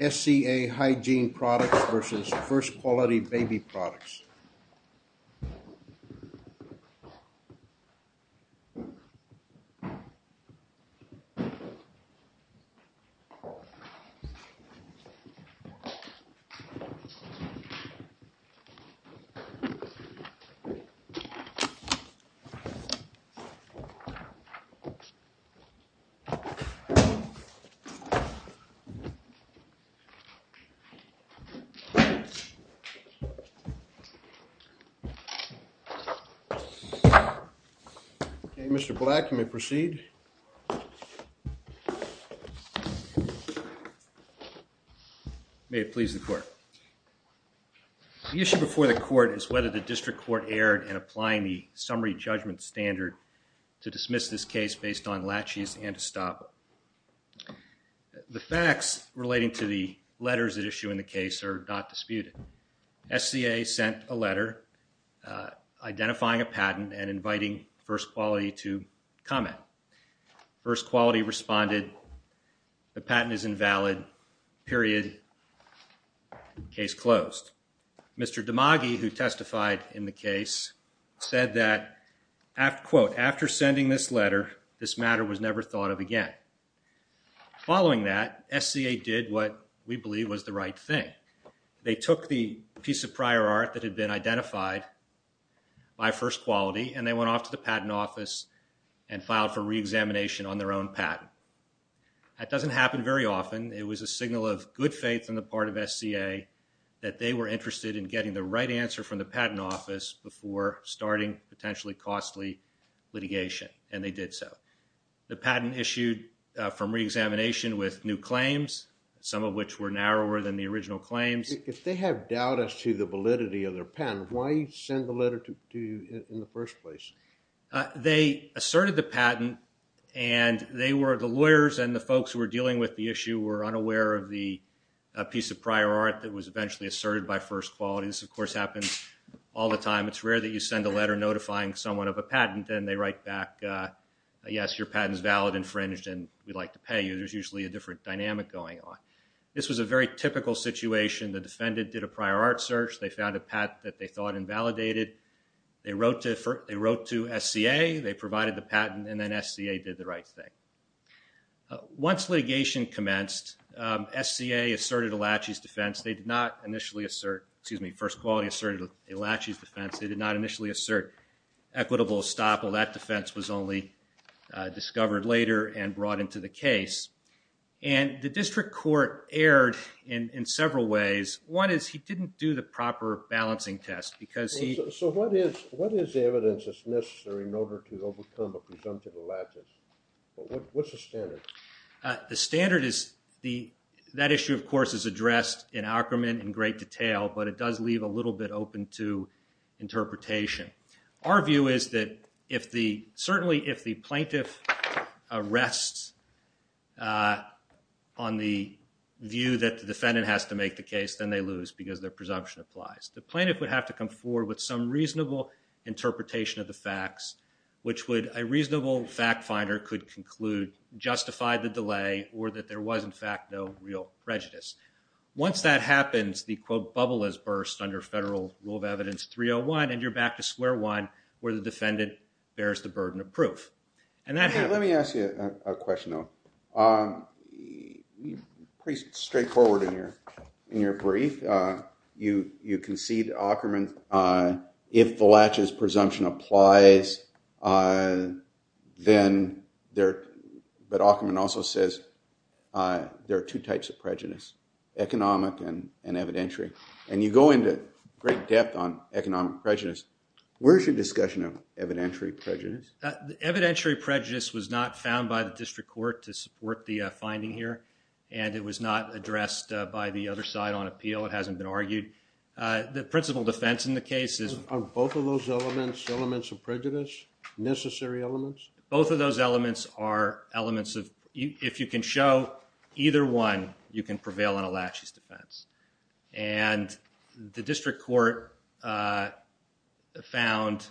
SCA Hygiene Products v. First Quality Baby Products SCA Hygiene Products v. First Quality Baby Products SCA Hygiene Products v. First Quality Baby Products Mr. Black, you may proceed. May it please the Court. The issue before the Court is whether the District Court erred in applying the summary judgement standard to dismiss this case based on latches and to stop it. The facts relating to the letters at issue in the case are not disputed. SCA sent a letter identifying a patent and inviting First Quality to comment. First Quality responded, the patent is invalid, period, case closed. Mr. DeMaggi, who testified in the case, said that, quote, after sending this letter, this matter was never thought of again. Following that, SCA did what we believe was the right thing. They took the piece of prior art that had been identified by First Quality and they went off to the Patent Office and filed for re-examination on their own patent. That doesn't happen very often. It was a signal of good faith on the part of SCA that they were interested in getting the right answer from the Patent Office before starting potentially costly litigation. And they did so. The patent issued from re-examination with new claims, some of which were narrower than the original claims. If they have doubt as to the validity of their patent, why send the letter to you in the first place? They asserted the patent and the lawyers and the folks who were dealing with the issue were unaware of the piece of prior art that was eventually asserted by First Quality. This, of course, happens all the time. It's rare that you send a letter notifying someone of a patent and they write back, yes, your patent is valid, infringed, and we'd like to pay you. There's usually a different dynamic going on. This was a very typical situation. The defendant did a prior art search. They found a patent that they thought invalidated. They wrote to SCA. They provided the patent and then SCA did the right thing. Once litigation commenced, SCA asserted Alachi's defense. They did not initially assert, excuse me, First Quality asserted Alachi's assert equitable estoppel. That defense was only discovered later and brought into the case. The district court erred in several ways. One is he didn't do the proper balancing test because he... So what is the evidence that's necessary in order to overcome a presumptive Alachi's? What's the standard? The standard is, that issue, of course, is addressed in Ackerman in great detail, but it does leave a little bit open to interpretation. Our view is that certainly if the plaintiff rests on the view that the defendant has to make the case, then they lose because their presumption applies. The plaintiff would have to come forward with some reasonable interpretation of the facts, which a reasonable fact finder could conclude justified the delay or that there was, in fact, no real prejudice. Once that happens, the quote, bubble has burst under federal rule of evidence 301 and you're back to square one where the defendant bears the burden of proof. Let me ask you a question, though. Pretty straightforward in your brief. You concede to Ackerman if the Lachi's presumption applies, then there... But Ackerman also says there are two types of prejudice, economic and evidentiary, and you go into great depth on economic prejudice. Where's your discussion of evidentiary prejudice? Evidentiary prejudice was not found by the district court to support the finding here, and it was not addressed by the other side on appeal. It hasn't been argued. The principal defense in the case is... Are both of those elements elements of prejudice, necessary elements? Both of those elements are elements of... If you can show either one, you can prevail on a Lachi's defense. And the district court found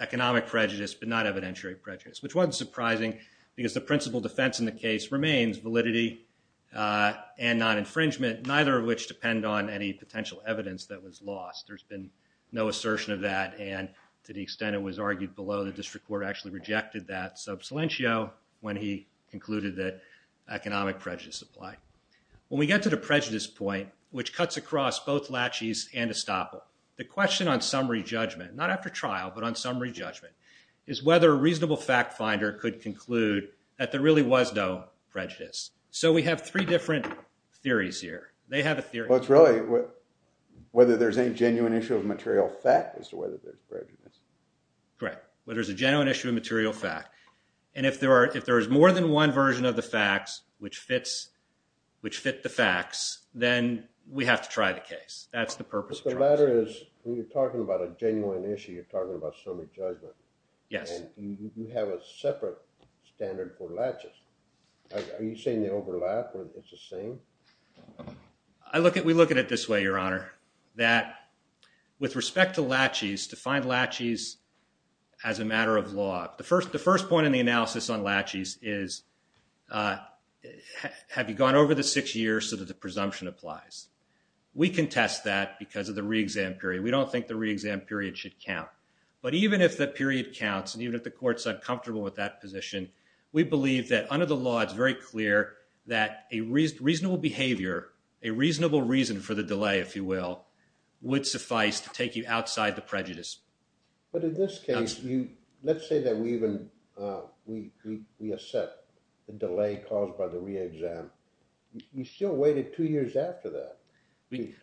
economic prejudice but not evidentiary prejudice, which wasn't surprising because the principal defense in the case remains validity and non-infringement, neither of which depend on any potential evidence that was lost. There's been no assertion of that, and to the extent it was argued below, the district court actually rejected that sub silentio when he concluded that economic prejudice applied. When we get to the prejudice point, which cuts across both Lachi's and Estoppel, the question on summary judgment, not after trial, but on summary judgment, is whether a reasonable fact finder could conclude that there really was no prejudice. So we have three different theories here. They have a theory... Well, it's really whether there's any genuine issue of material fact as to whether there's prejudice. Right. Whether there's a genuine issue of material fact. And if there is more than one version of the facts which fits the facts, then we have to try the case. That's the purpose of trial. But the latter is, when you're talking about a genuine issue, you're talking about summary judgment. Yes. And you have a separate standard for Lachi's. Are you saying they overlap or it's the same? We look at it this way, Your Honor. That with respect to Lachi's, to find Lachi's as a matter of law, the first point in the analysis on Lachi's is have you gone over the six years so that the presumption applies? We contest that because of the re-exam period. We don't think the re-exam period should count. But even if the period counts, and even if the court's uncomfortable with that position, we believe that under the law it's very clear that a reasonable behavior, a reasonable reason for the delay, if you will, would suffice to take you outside the prejudice. But in this case, let's say that we even we accept the delay caused by the re-exam. You still waited two years after that.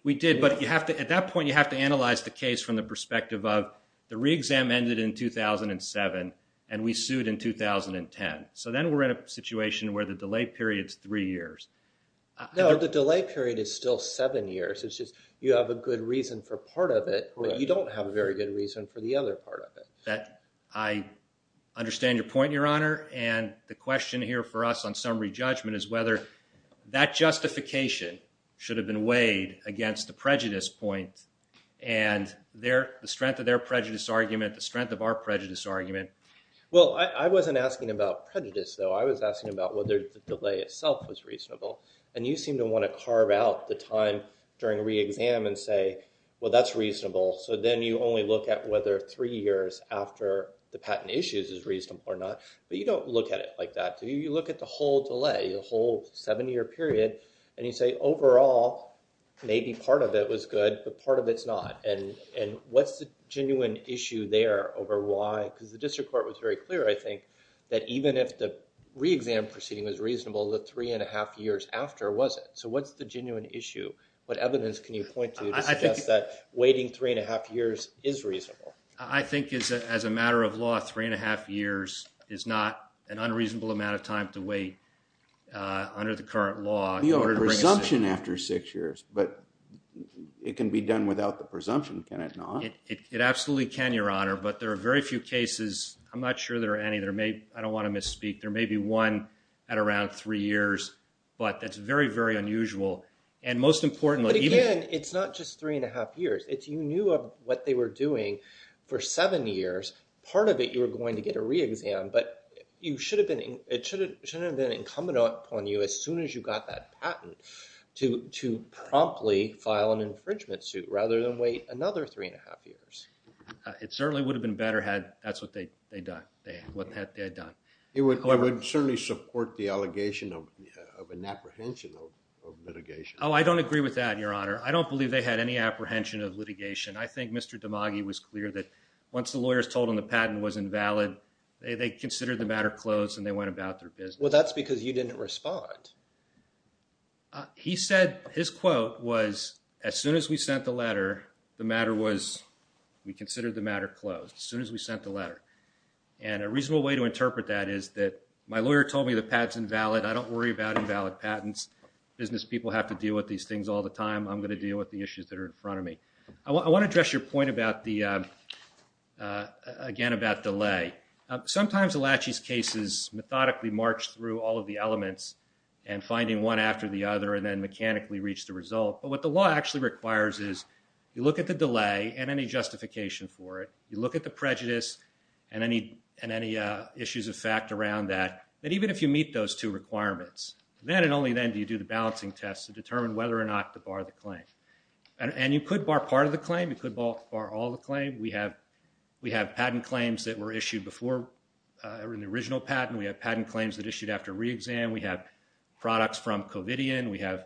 We did, but at that point you have to analyze the case from the perspective of the re-exam ended in 2007 and we sued in 2010. So then we're in a situation where the delay period's three years. No, the delay period is still seven years. It's just you have a good reason for part of it, but you don't have a very good reason for the other part of it. I understand your point, Your Honor, and the question here for us on summary judgment is whether that justification should have been weighed against the prejudice point and the strength of their prejudice argument, the strength of our prejudice argument. Well, I wasn't asking about prejudice, though. I was asking about whether the delay itself was reasonable. And you seem to want to carve out the time during re-exam and say, well, that's reasonable. So then you only look at whether three years after the patent issues is reasonable or not. But you don't look at it like that. You look at the whole delay, the whole seven-year period, and you say, overall, maybe part of it was good, but part of it's not. And what's the genuine issue there over why? Because the district court was very clear, I think, that even if the re-exam proceeding was reasonable, the three and a half years after wasn't. So what's the genuine issue? What evidence can you point to to suggest that waiting three and a half years is reasonable? I think as a matter of law, three and a half years is not an unreasonable amount of time to wait under the current law. You have a presumption after six years, but it can be done without the presumption, can it not? It absolutely can, Your Honor, but there are very few cases, I'm not sure there are any, I don't want to misspeak, there may be one at around three years, but that's very, very unusual. But again, it's not just three and a half years. You knew of what they were doing for seven years. Part of it, you were going to get a re-exam, but it shouldn't have been incumbent upon you as soon as you got that patent to promptly file an infringement suit rather than wait another three and a half years. It certainly would have been better had that's what they had done. It would certainly support the allegation of an apprehension of litigation. Oh, I don't agree with that, Your Honor. I don't believe they had any apprehension of litigation. I think Mr. DiMaggio was clear that once the lawyers told him the patent was invalid, they considered the matter closed and they went about their business. Well, that's because you didn't respond. He said, his quote was, as soon as we sent the letter, the matter was we considered the matter closed, as soon as we sent the letter. And a reasonable way to interpret that is that my lawyer told me the patent's invalid. I don't worry about invalid patents. Business people have to deal with these things all the time. I'm going to deal with the issues that are in front of me. I want to address your point again about delay. Sometimes the laches cases methodically march through all of the elements and finding one after the other and then mechanically reach the result. But what the law actually requires is you look at the delay and any justification for it. You look at the prejudice and any issues of fact around that. But even if you meet those two requirements, then and only then do you do the balancing test to determine whether or not to bar the claim. And you could bar part of the claim. You could bar all the claim. We have patent claims that were issued before in the original patent. We have patent claims that issued after re-exam. We have products from Covidian. We have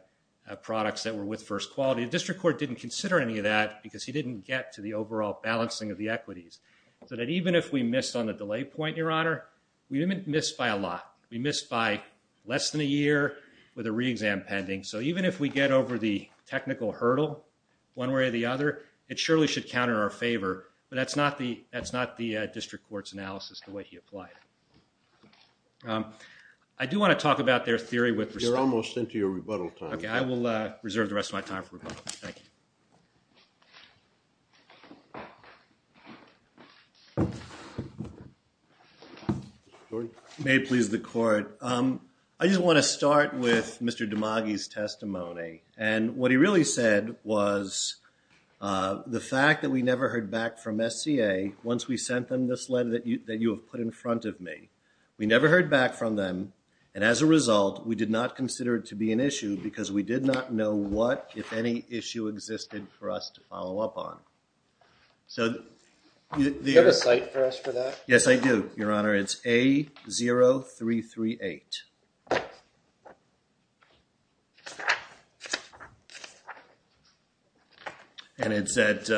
products that were with first quality. The district court didn't consider any of that because he didn't get to the overall balancing of the equities. So that even if we missed on the delay point, Your Honor, we didn't miss by a lot. We missed by less than a year with a re-exam pending. So even if we get over the technical hurdle one way or the other, it surely should counter our favor. But that's not the district court's analysis the way he applied it. I do want to talk about their theory with respect to... You're almost into your rebuttal time. Okay, I will reserve the rest of my time for rebuttal. Thank you. May it please the court. I just want to start with Mr. Dimagi's testimony. And what he really said was the fact that we never heard back from SCA once we sent them this letter that you have put in front of me. We never heard back from them. And as a result, we did not consider it to be an issue because we did not know what, if any, issue existed for us to address. Do you have a site for us for that? Yes, I do, Your Honor. It's A0338. And it's at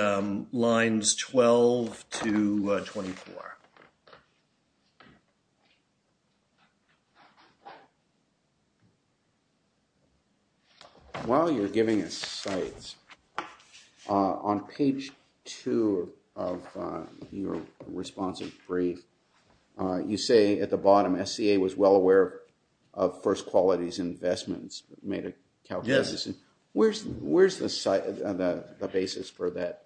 lines 12 to 24. While you're giving us sites, on page 2 of your responsive brief, you say at the bottom SCA was well aware of First Quality's investments. Where's the basis for that?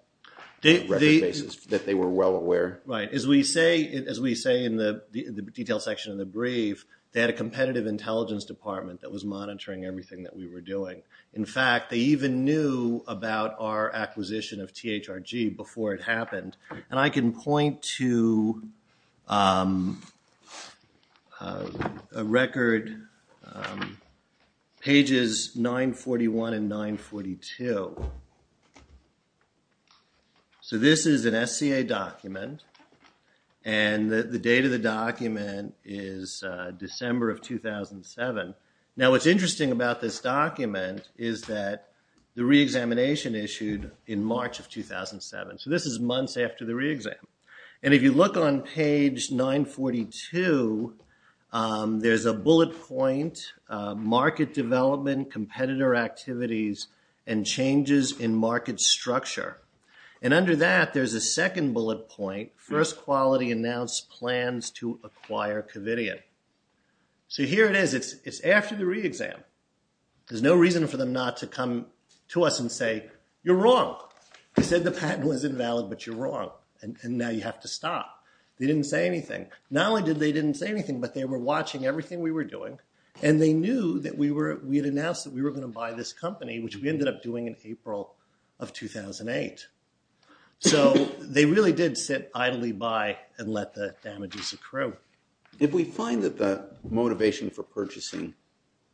That they were well aware? As we say in the detailed section of the brief, they had a competitive intelligence department that was monitoring everything that we were doing. In fact, they even knew about our acquisition of THRG before it happened. And I can point to a record pages 941 and 942. So this is an SCA document. And the date of the document is December of 2007. Now what's interesting about this document is that the reexamination issued in March of 2007. So this is months after the reexam. And if you look on page 942, there's a bullet point, market development, competitor activities, and changes in market structure. And under that, there's a second bullet point, First Quality announced plans to acquire Covidian. So here it is. It's after the reexam. There's no reason for them not to come to us and say, you're wrong. They said the patent was invalid, but you're wrong. And now you have to stop. They didn't say anything. Not only did they didn't say anything, but they were watching everything we were doing. And they knew that we had announced that we were going to buy this company, which we ended up doing in April of 2008. So they really did sit idly by and let the Do you find that the motivation for purchasing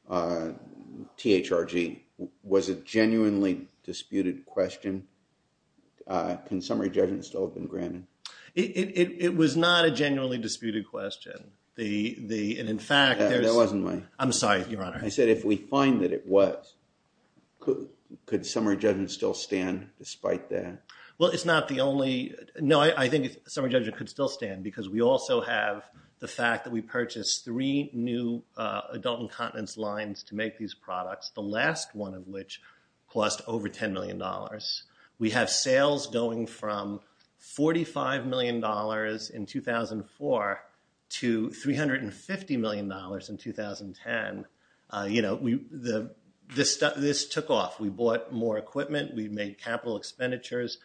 THRG was a genuinely disputed question? Can summary judgment still have been granted? It was not a genuinely disputed question. I'm sorry, your Honor. I said if we find that it was, could summary judgment still stand despite that? Well, it's not the only. No, I think summary judgment could still stand because we also have the fact that we purchased three new adult incontinence lines to make these products, the last one of which cost over $10 million. We have sales going from $45 million in 2004 to $350 million in 2010. This took off. We bought more equipment. We made capital expenditures.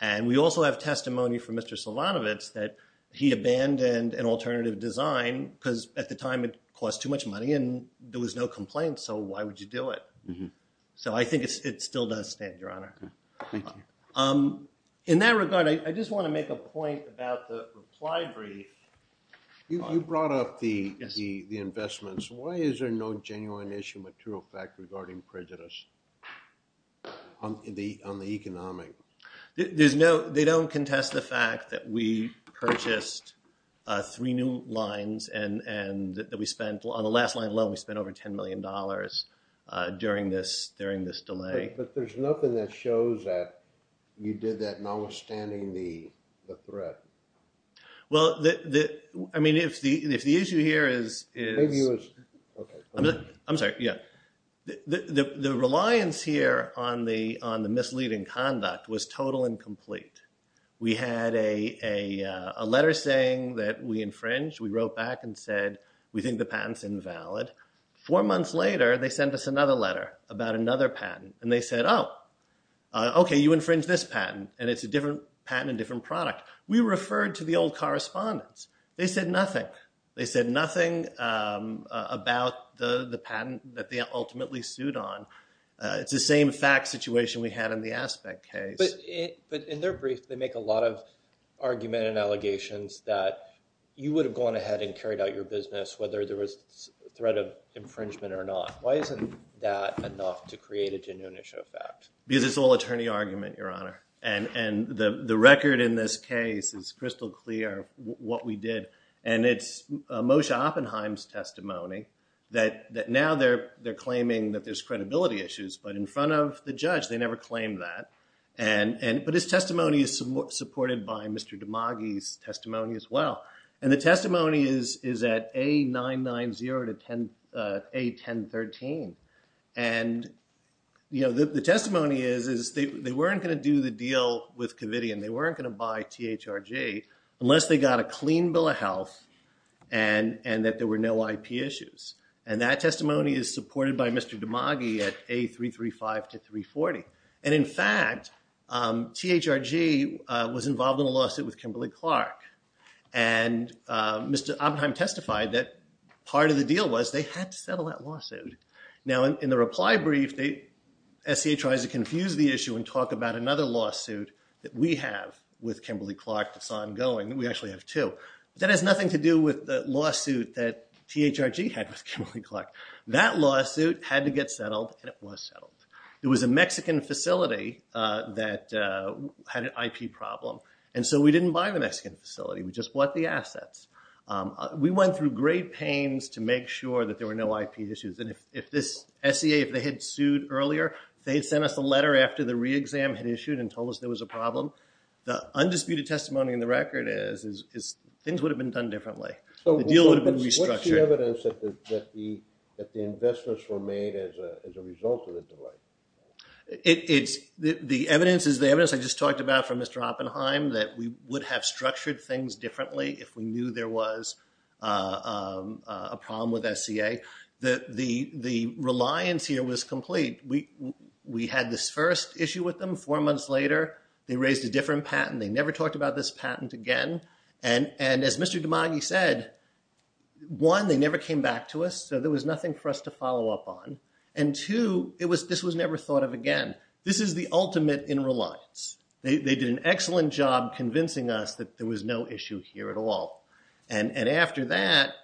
And we also have testimony from Mr. Silvanovitz that he abandoned an alternative design because at the time it cost too much money and there was no complaint, so why would you do it? So I think it still does stand, your Honor. In that regard, I just want to make a point about the reply brief. You brought up the investments. Why is there no genuine issue material fact regarding prejudice? On the economic? They don't contest the fact that we purchased three new lines and that we spent, on the last line alone, we spent over $10 million during this delay. But there's nothing that shows that you did that notwithstanding the threat. Well, I mean, if the issue here is... I'm sorry, yeah. The reliance here on the misleading conduct was total and complete. We had a letter saying that we infringed. We wrote back and said, we think the patent's invalid. Four months later, they sent us another letter about another patent. And they said, oh, okay, you infringed this patent and it's a different patent and different product. We referred to the old correspondence. They said nothing. They said nothing about the patent that they ultimately sued on. It's the same fact situation we had in the Aspect case. But in their brief, they make a lot of argument and allegations that you would have gone ahead and carried out your business whether there was threat of infringement or not. Why isn't that enough to create a genuine issue of fact? Because it's all attorney argument, Your Honor. And the record in this case is crystal clear what we did. And it's Moshe Oppenheim's testimony that now they're claiming that there's credibility issues. But in front of the judge, they never claimed that. But his testimony is supported by Mr. Damagi's testimony as well. And the testimony is at A990 to A1013. And the testimony is they weren't going to do the deal with Covidian. They weren't going to buy THRG unless they got a clean bill of health and that there were no IP issues. And that testimony is supported by Mr. Damagi at A335 to 340. And in fact, THRG was involved in a lawsuit with Kimberly Clark. And Mr. Oppenheim testified that part of the deal was they had to settle that lawsuit. Now in the reply brief, SCA tries to confuse the issue and talk about another lawsuit that we have with Kimberly Clark that's ongoing. We actually have two. That has nothing to do with the lawsuit that THRG had with Kimberly Clark. That lawsuit had to get settled and it was settled. It was a Mexican facility that had an IP problem. And so we didn't buy the Mexican facility. We just bought the assets. We went through great pains to make sure that there were no IP issues. And if this SCA, if they had sued earlier, if they had sent us a letter after the re-exam had issued and told us there was a problem, the undisputed testimony in the record is things would have been done differently. The deal would have been restructured. What's the evidence that the investments were made as a result of the delay? The evidence is the evidence I just talked about from Mr. Oppenheim that we would have structured things differently if we knew there was a problem with SCA. The reliance here was complete. We had this first issue with them. Four months later, they raised a different patent. They never talked about this patent again. And as Mr. DiMaggio said, one, they never came back to us. So there was nothing for us to follow up on. And two, this was never thought of again. This is the ultimate in reliance. They did an excellent job convincing us that there was no issue here at all. And after that,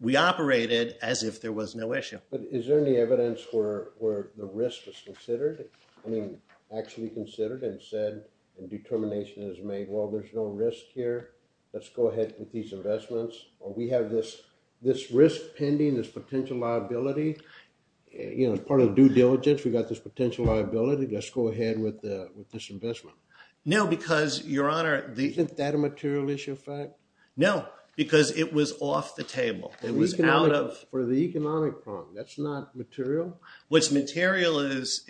we operated as if there was no issue. But is there any evidence where the risk was considered? I mean, actually considered and said, and determination is made, well, there's no risk here. Let's go ahead with these investments. We have this risk pending, this potential liability. You know, as part of due diligence, we've got this potential liability. Let's go ahead with this investment. No, because, Your Honor... Isn't that a material issue of fact? No, because it was off the table. It was out of... For the economic problem. That's not material? What's material is,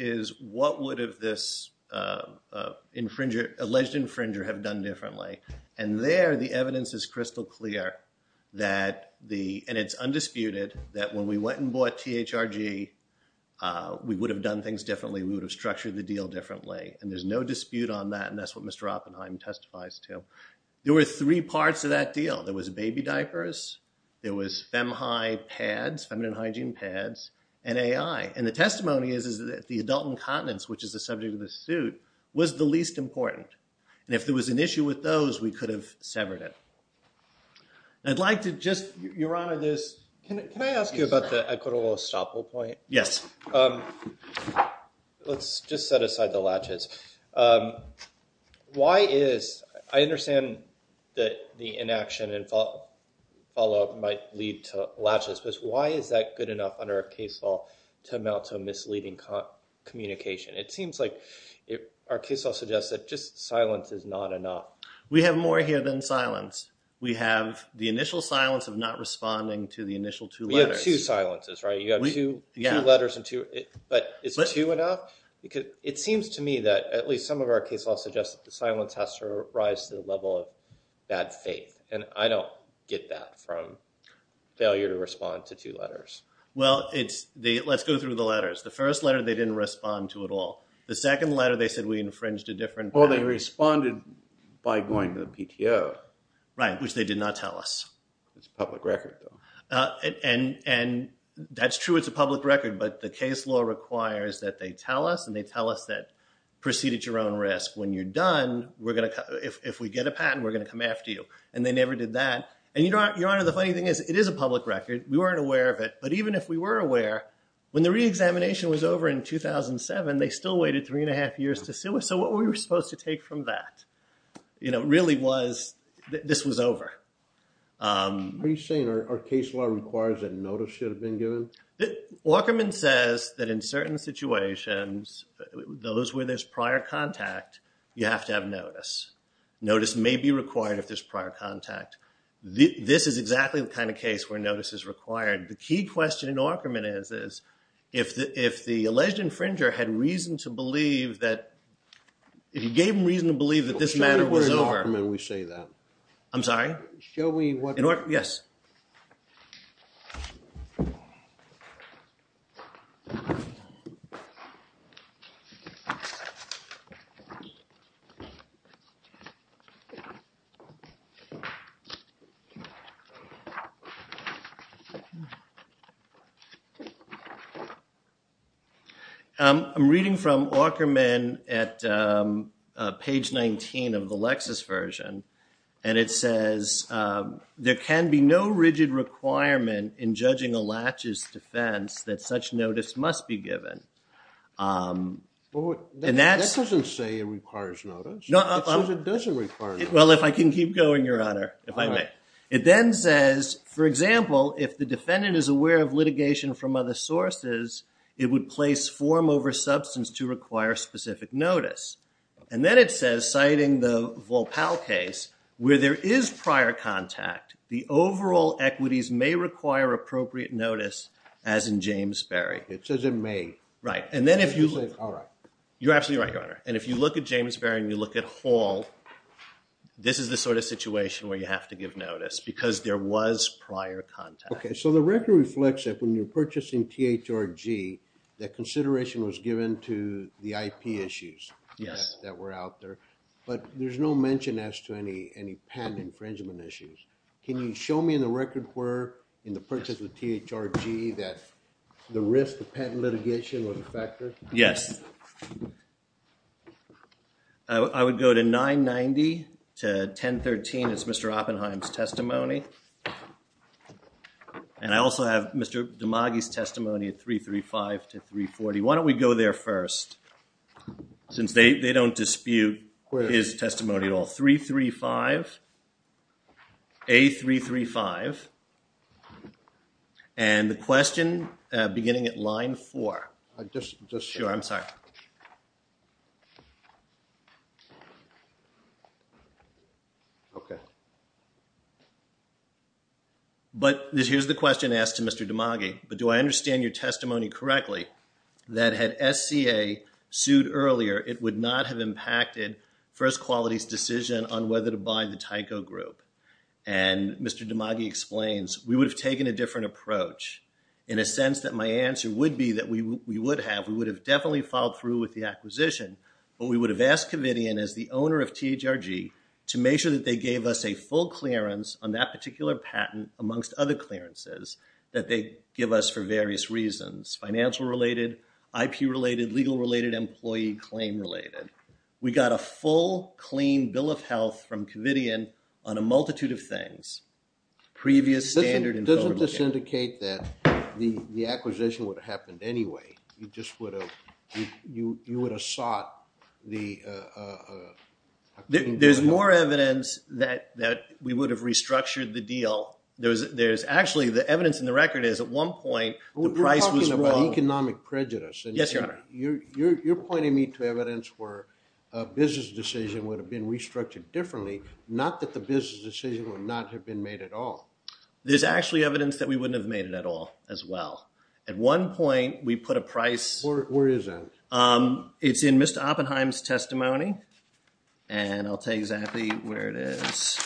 what would have this alleged infringer have done differently? And there, the evidence is crystal clear that the... And it's undisputed that when we went and bought THRG, we would have done things differently. We would have structured the deal differently. And there's no dispute on that. And that's what Mr. Oppenheim testifies to. There were three parts to that deal. There was baby diapers, there was FemHi pads, feminine hygiene pads, and AI. And the testimony is that the adult incontinence, which is the subject of this suit, was the least important. And if there was an issue with those, we could have severed it. And I'd like to just... Your Honor, this... Can I ask you about the equitable estoppel point? Yes. Let's just set aside the latches. Why is... I understand that the inaction and follow-up might lead to latches, but why is that good enough under a case law to amount to a misleading communication? It seems like our case law suggests that just silence is not enough. We have more here than silence. We have the initial silence of not responding to the initial two letters. We have two silences, right? You have two letters and two... But is two enough? Because it seems to me that at least some of our case law suggests the silence has to rise to the level of bad faith. And I don't get that from failure to respond to two letters. Well, it's... Let's go through the letters. The first letter, they didn't respond to it all. The second letter, they said we infringed a different... Well, they responded by going to the PTO. Right, which they did not tell us. It's a public record, though. And that's true, it's a public record, but the case law requires that they tell us, and they tell us that proceed at your own risk. When you're done, we're going to... If we get a patent, we're going to come after you. And they never did that. And, Your Honor, the funny thing is, it is a public record. We weren't aware of it. But even if we were aware, when the re-examination was over in 2007, they still waited three and a half years to sue us. So what were we supposed to take from that? You know, really was... This was over. Are you saying our case law requires that notice should have been given? Walkerman says that in certain situations, those where there's prior contact, you have to have notice. Notice may be required if there's prior contact. This is exactly the kind of case where notice is required. The key question in Walkerman is if the alleged infringer had reason to believe that... If you gave him reason to believe that this matter was over... Show me where in Walkerman we say that. I'm sorry? In Walkerman, yes. I'm reading from Walkerman at page 19 of the Lexis version. And it says, there can be no rigid requirement in judging a latch's defense that such notice must be given. That doesn't say it requires notice. It says it doesn't require notice. Well, if I can keep going, Your Honor, if I may. It then says, for example, if the defendant is aware of litigation from other sources, it would place form over substance to require specific notice. And then it says, citing the Volpell case, where there is prior contact, the overall equities may require appropriate notice as in James Berry. It says it may. You're absolutely right, Your Honor. And if you look at James Berry and you look at Hall, this is the sort of situation where you have to give notice because there was prior contact. Okay, so the record reflects that when you're purchasing THRG, that consideration was given to the IP issues that were out there. But there's no mention as to any patent infringement issues. Can you show me in the record where in the purchase of THRG that the risk of patent litigation was a factor? Yes. I would go to 990 to 1013. It's Mr. Oppenheim's testimony. And I also have Mr. Damagi's testimony at 335 to 340. Why don't we go there first since they don't dispute his testimony at all. 335. A335. And the question beginning at line 4. Sure, I'm sorry. Okay. But here's the question asked to Mr. Damagi. Do I understand your testimony correctly that had SCA sued earlier, it would not have impacted First Quality's on whether to buy the Tyco Group? And Mr. Damagi explains we would have taken a different approach in a sense that my answer would be that we would have. We would have definitely followed through with the acquisition. But we would have asked Covidian as the owner of THRG to make sure that they gave us a full clearance on that particular patent amongst other clearances that they give us for various reasons. Financial related, IP related, legal related, employee claim related. We got a full, clean bill of health from Covidian on a multitude of things. Previous standard information. Doesn't this indicate that the acquisition would have happened anyway? You just would have sought the There's more evidence that we would have restructured the deal. There's actually, the evidence in the record is at one point the price was wrong. You're talking about economic prejudice. Yes, your honor. You're pointing me to where a business decision would have been restructured differently. Not that the business decision would not have been made at all. There's actually evidence that we wouldn't have made it at all as well. At one point we put a price Where is that? It's in Mr. Oppenheim's testimony. And I'll tell you exactly where it is.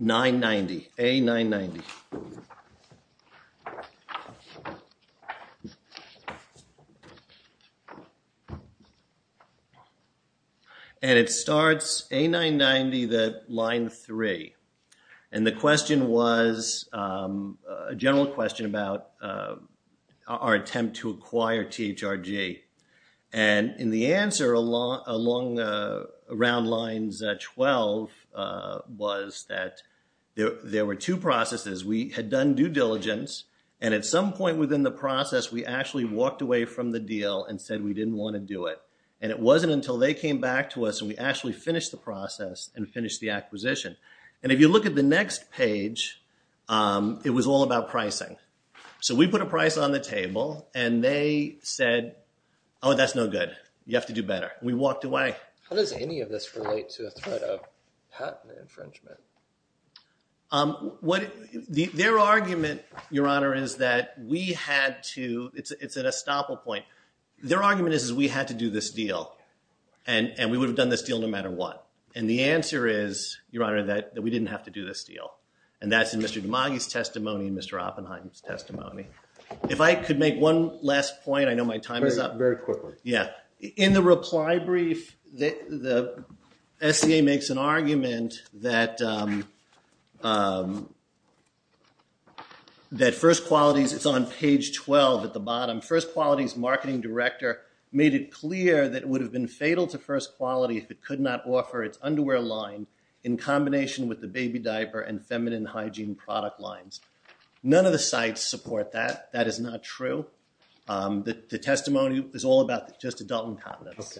990. A990. And it starts A990, line 3. And the question was, a general question about our attempt to acquire THRG. And in the answer along, around lines 12 was that there were two processes. We had done due diligence and at some point within the process we actually walked away from the deal and said we didn't want to do it. And it wasn't until they came back to us and we actually finished the process and finished the acquisition. And if you look at the next page it was all about pricing. So we put a price on the table and they said, oh that's no good. You have to do better. We walked away. How does any of this relate to the threat of patent infringement? Their argument, your honor, is that we had to it's an estoppel point. Their argument is we had to do this deal and we would have done this deal no matter what. And the answer is, your honor, that we didn't have to do this deal. And that's in Mr. Dimagi's testimony and Mr. Oppenheim's testimony. If I could make one last point, I know my time is up. Very quickly. In the reply brief the SCA makes an argument that First Quality's, it's on page 12 at the bottom, First Quality's marketing director made it clear that it would have been fatal to First Quality if it could not offer its underwear line in combination with the baby diaper and feminine hygiene product lines. None of the sites support that. That is not true. The testimony is all about just adulting pot lips.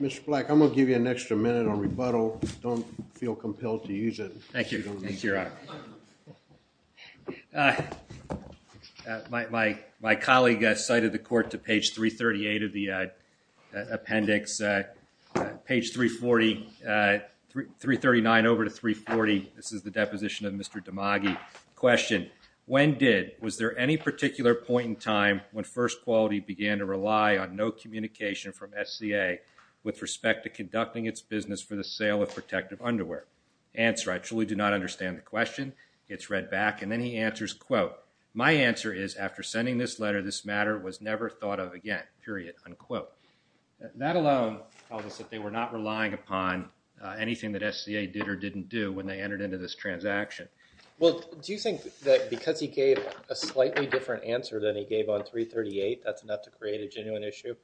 Mr. Black, I'm going to give you an extra minute on rebuttal. Don't feel compelled to use it. Thank you, your honor. My colleague cited the court to page 338 of the appendix. Page 340 339 over to 340. This is the deposition of Mr. Dimagi. Question, when did, was there any particular point in time when First Quality began to rely on no communication from SCA with respect to conducting its business for the sale of protective underwear? Answer, I truly do not understand the question. It's read back and then he answers quote, my answer is after sending this letter this matter was never thought of again, period, unquote. Not alone they were not relying upon anything that SCA did or didn't do when they Well, do you think that because he gave a slightly different answer than he gave on 338, that's enough to create a genuine issue?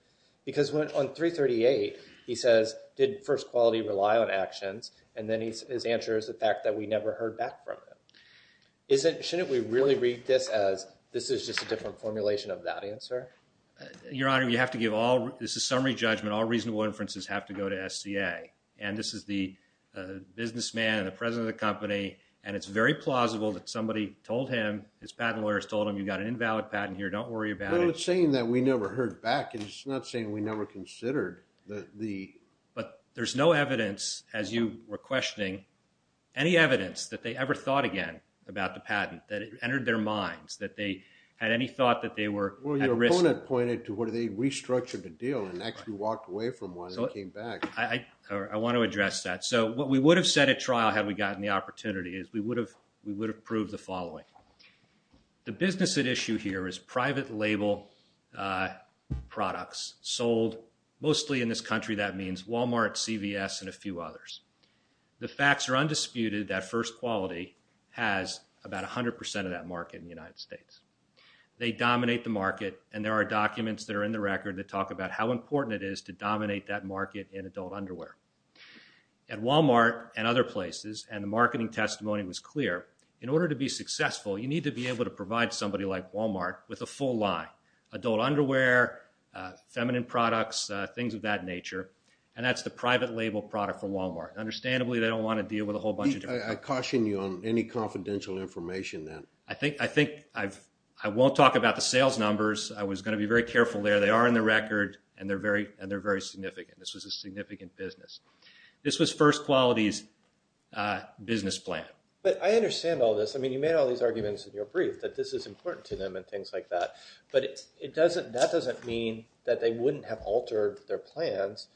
Because on 338 he says, did First Quality rely on actions? And then his answer is the fact that we never heard back from him. Shouldn't we really read this as, this is just a different formulation of that answer? Your honor, you have to give all, this is summary judgment, all reasonable inferences have to go to SCA. And this is the businessman and the president of the somebody told him, his patent lawyers told him, you got an invalid patent here, don't worry about it. No, it's saying that we never heard back. It's not saying we never considered the But there's no evidence, as you were questioning any evidence that they ever thought again about the patent, that it entered their minds, that they had any thought that they were Well, your opponent pointed to where they restructured the deal and actually walked away from one and came back. I want to address that. So what we would have said at trial had we gotten the opportunity is we would have, we would have proved the following. The business at issue here is private label products sold mostly in this country. That means Walmart, CVS and a few others. The facts are undisputed that First Quality has about 100% of that market in the United States. They dominate the market and there are documents that are in the record that talk about how important it is to dominate that market in adult underwear. At Walmart and other places, and the marketing testimony was clear, in order to be successful, you need to be able to provide somebody like Walmart with a full line. Adult underwear, feminine products, things of that nature. And that's the private label product for Walmart. Understandably, they don't want to deal with a whole bunch of different I caution you on any confidential information then. I think I won't talk about the sales numbers. I was going to be very careful there. They are in the record and they're very significant. This was a significant business. This was First Quality's business plan. But I understand all this. I mean you made all these arguments in your brief that this is important to them and things like that. But it doesn't that doesn't mean that they wouldn't have altered their plans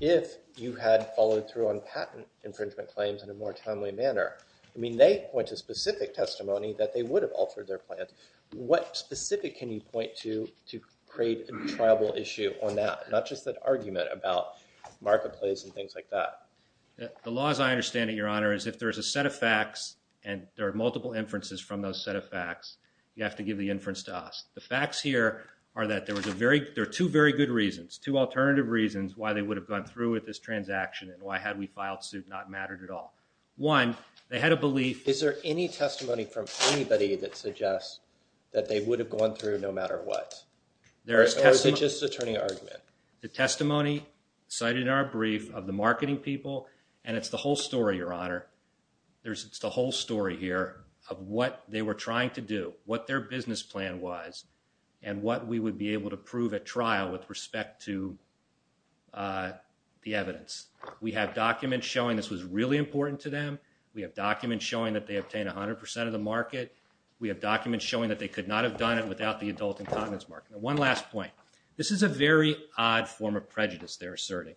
if you had followed through on patent infringement claims in a more timely manner. I mean they point to specific testimony that they would have altered their plans. What specific can you point to to create a triable issue on that? Not just an argument about marketplace and things like that. The law as I understand it, Your Honor, is if there's a set of facts and there are multiple inferences from those set of facts, you have to give the inference to us. The facts here are that there are two very good reasons. Two alternative reasons why they would have gone through with this transaction and why had we filed suit not mattered at all. One, they had a belief. Is there any testimony from anybody that suggests that they would have gone through no matter what? Or is it just an attorney argument? The testimony cited in our brief of the marketing people and it's the whole story, Your Honor. It's the whole story here of what they were trying to do. What their business plan was and what we would be able to prove at trial with respect to the evidence. We have documents showing this was really important to them. We have documents showing that they obtained 100% of the market. We have documents showing that they could not have done it without the adult incognizance mark. One last point. This is a very odd form of prejudice they're asserting.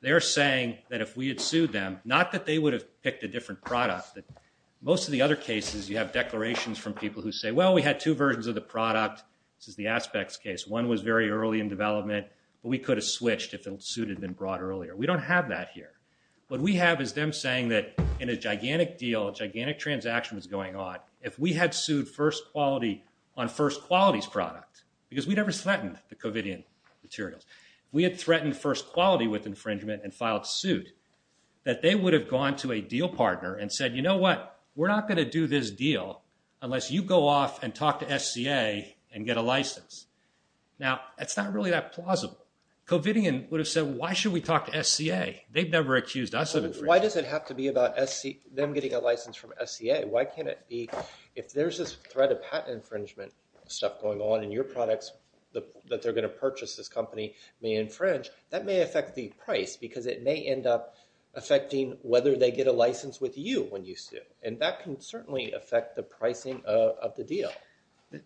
They're saying that if we had sued them, not that they would have picked a different product, but most of the other cases you have declarations from people who say, well, we had two versions of the product. This is the Aspects case. One was very early in development, but we could have switched if the suit had been brought earlier. We don't have that here. What we have is them saying that in a gigantic deal, a gigantic transaction was going on. If we had sued First Quality on First Quality's product because we never threatened the Covidian materials. If we had threatened First Quality with infringement and filed suit, that they would have gone to a deal partner and said, you know what? We're not going to do this deal unless you go off and talk to SCA and get a license. That's not really that plausible. Covidian would have said, why should we talk to SCA? They've never accused us of... Why does it have to be about them getting a license? If there's this threat of patent infringement stuff going on in your products that they're going to purchase this company may infringe, that may affect the price because it may end up affecting whether they get a license with you when you sue. And that can certainly affect the pricing of the deal.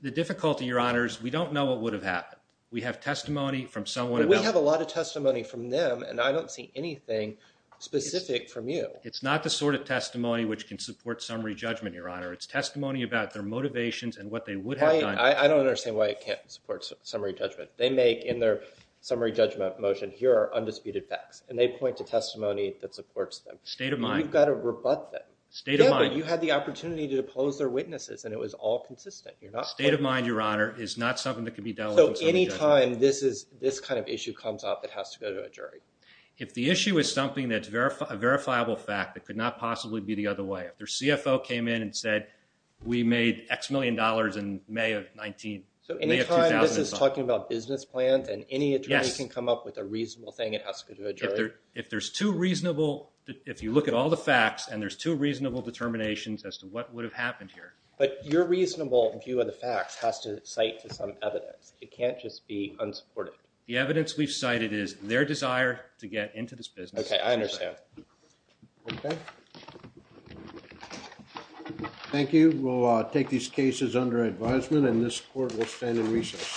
The difficulty, Your Honors, we don't know what would have happened. We have testimony from someone... We have a lot of testimony from them and I don't see anything specific from you. It's not the sort of testimony which can support summary judgment, Your Honor. It's testimony about their motivations and what they would have done... I don't understand why it can't support summary judgment. They make in their summary judgment motion, here are undisputed facts. And they point to testimony that supports them. State of mind. You've got to rebut them. State of mind. Yeah, but you had the opportunity to depose their witnesses and it was all consistent. State of mind, Your Honor, is not something that can be dealt with in summary judgment. So any time this kind of issue comes up it has to go to a jury? If the issue is something that's a verifiable fact it could not possibly be the other way. If their CFO came in and said we made X million dollars in May of 19... So any time this is talking about business plans and any attorney can come up with a reasonable thing it has to go to a jury? If there's two reasonable... If you look at all the facts and there's two reasonable determinations as to what would have happened here. But your reasonable view of the facts has to cite to some evidence. It can't just be unsupported. The evidence we've cited is their desire to get into this business. Okay, I understand. Thank you. We'll take these cases under advisement and this court will stand in recess.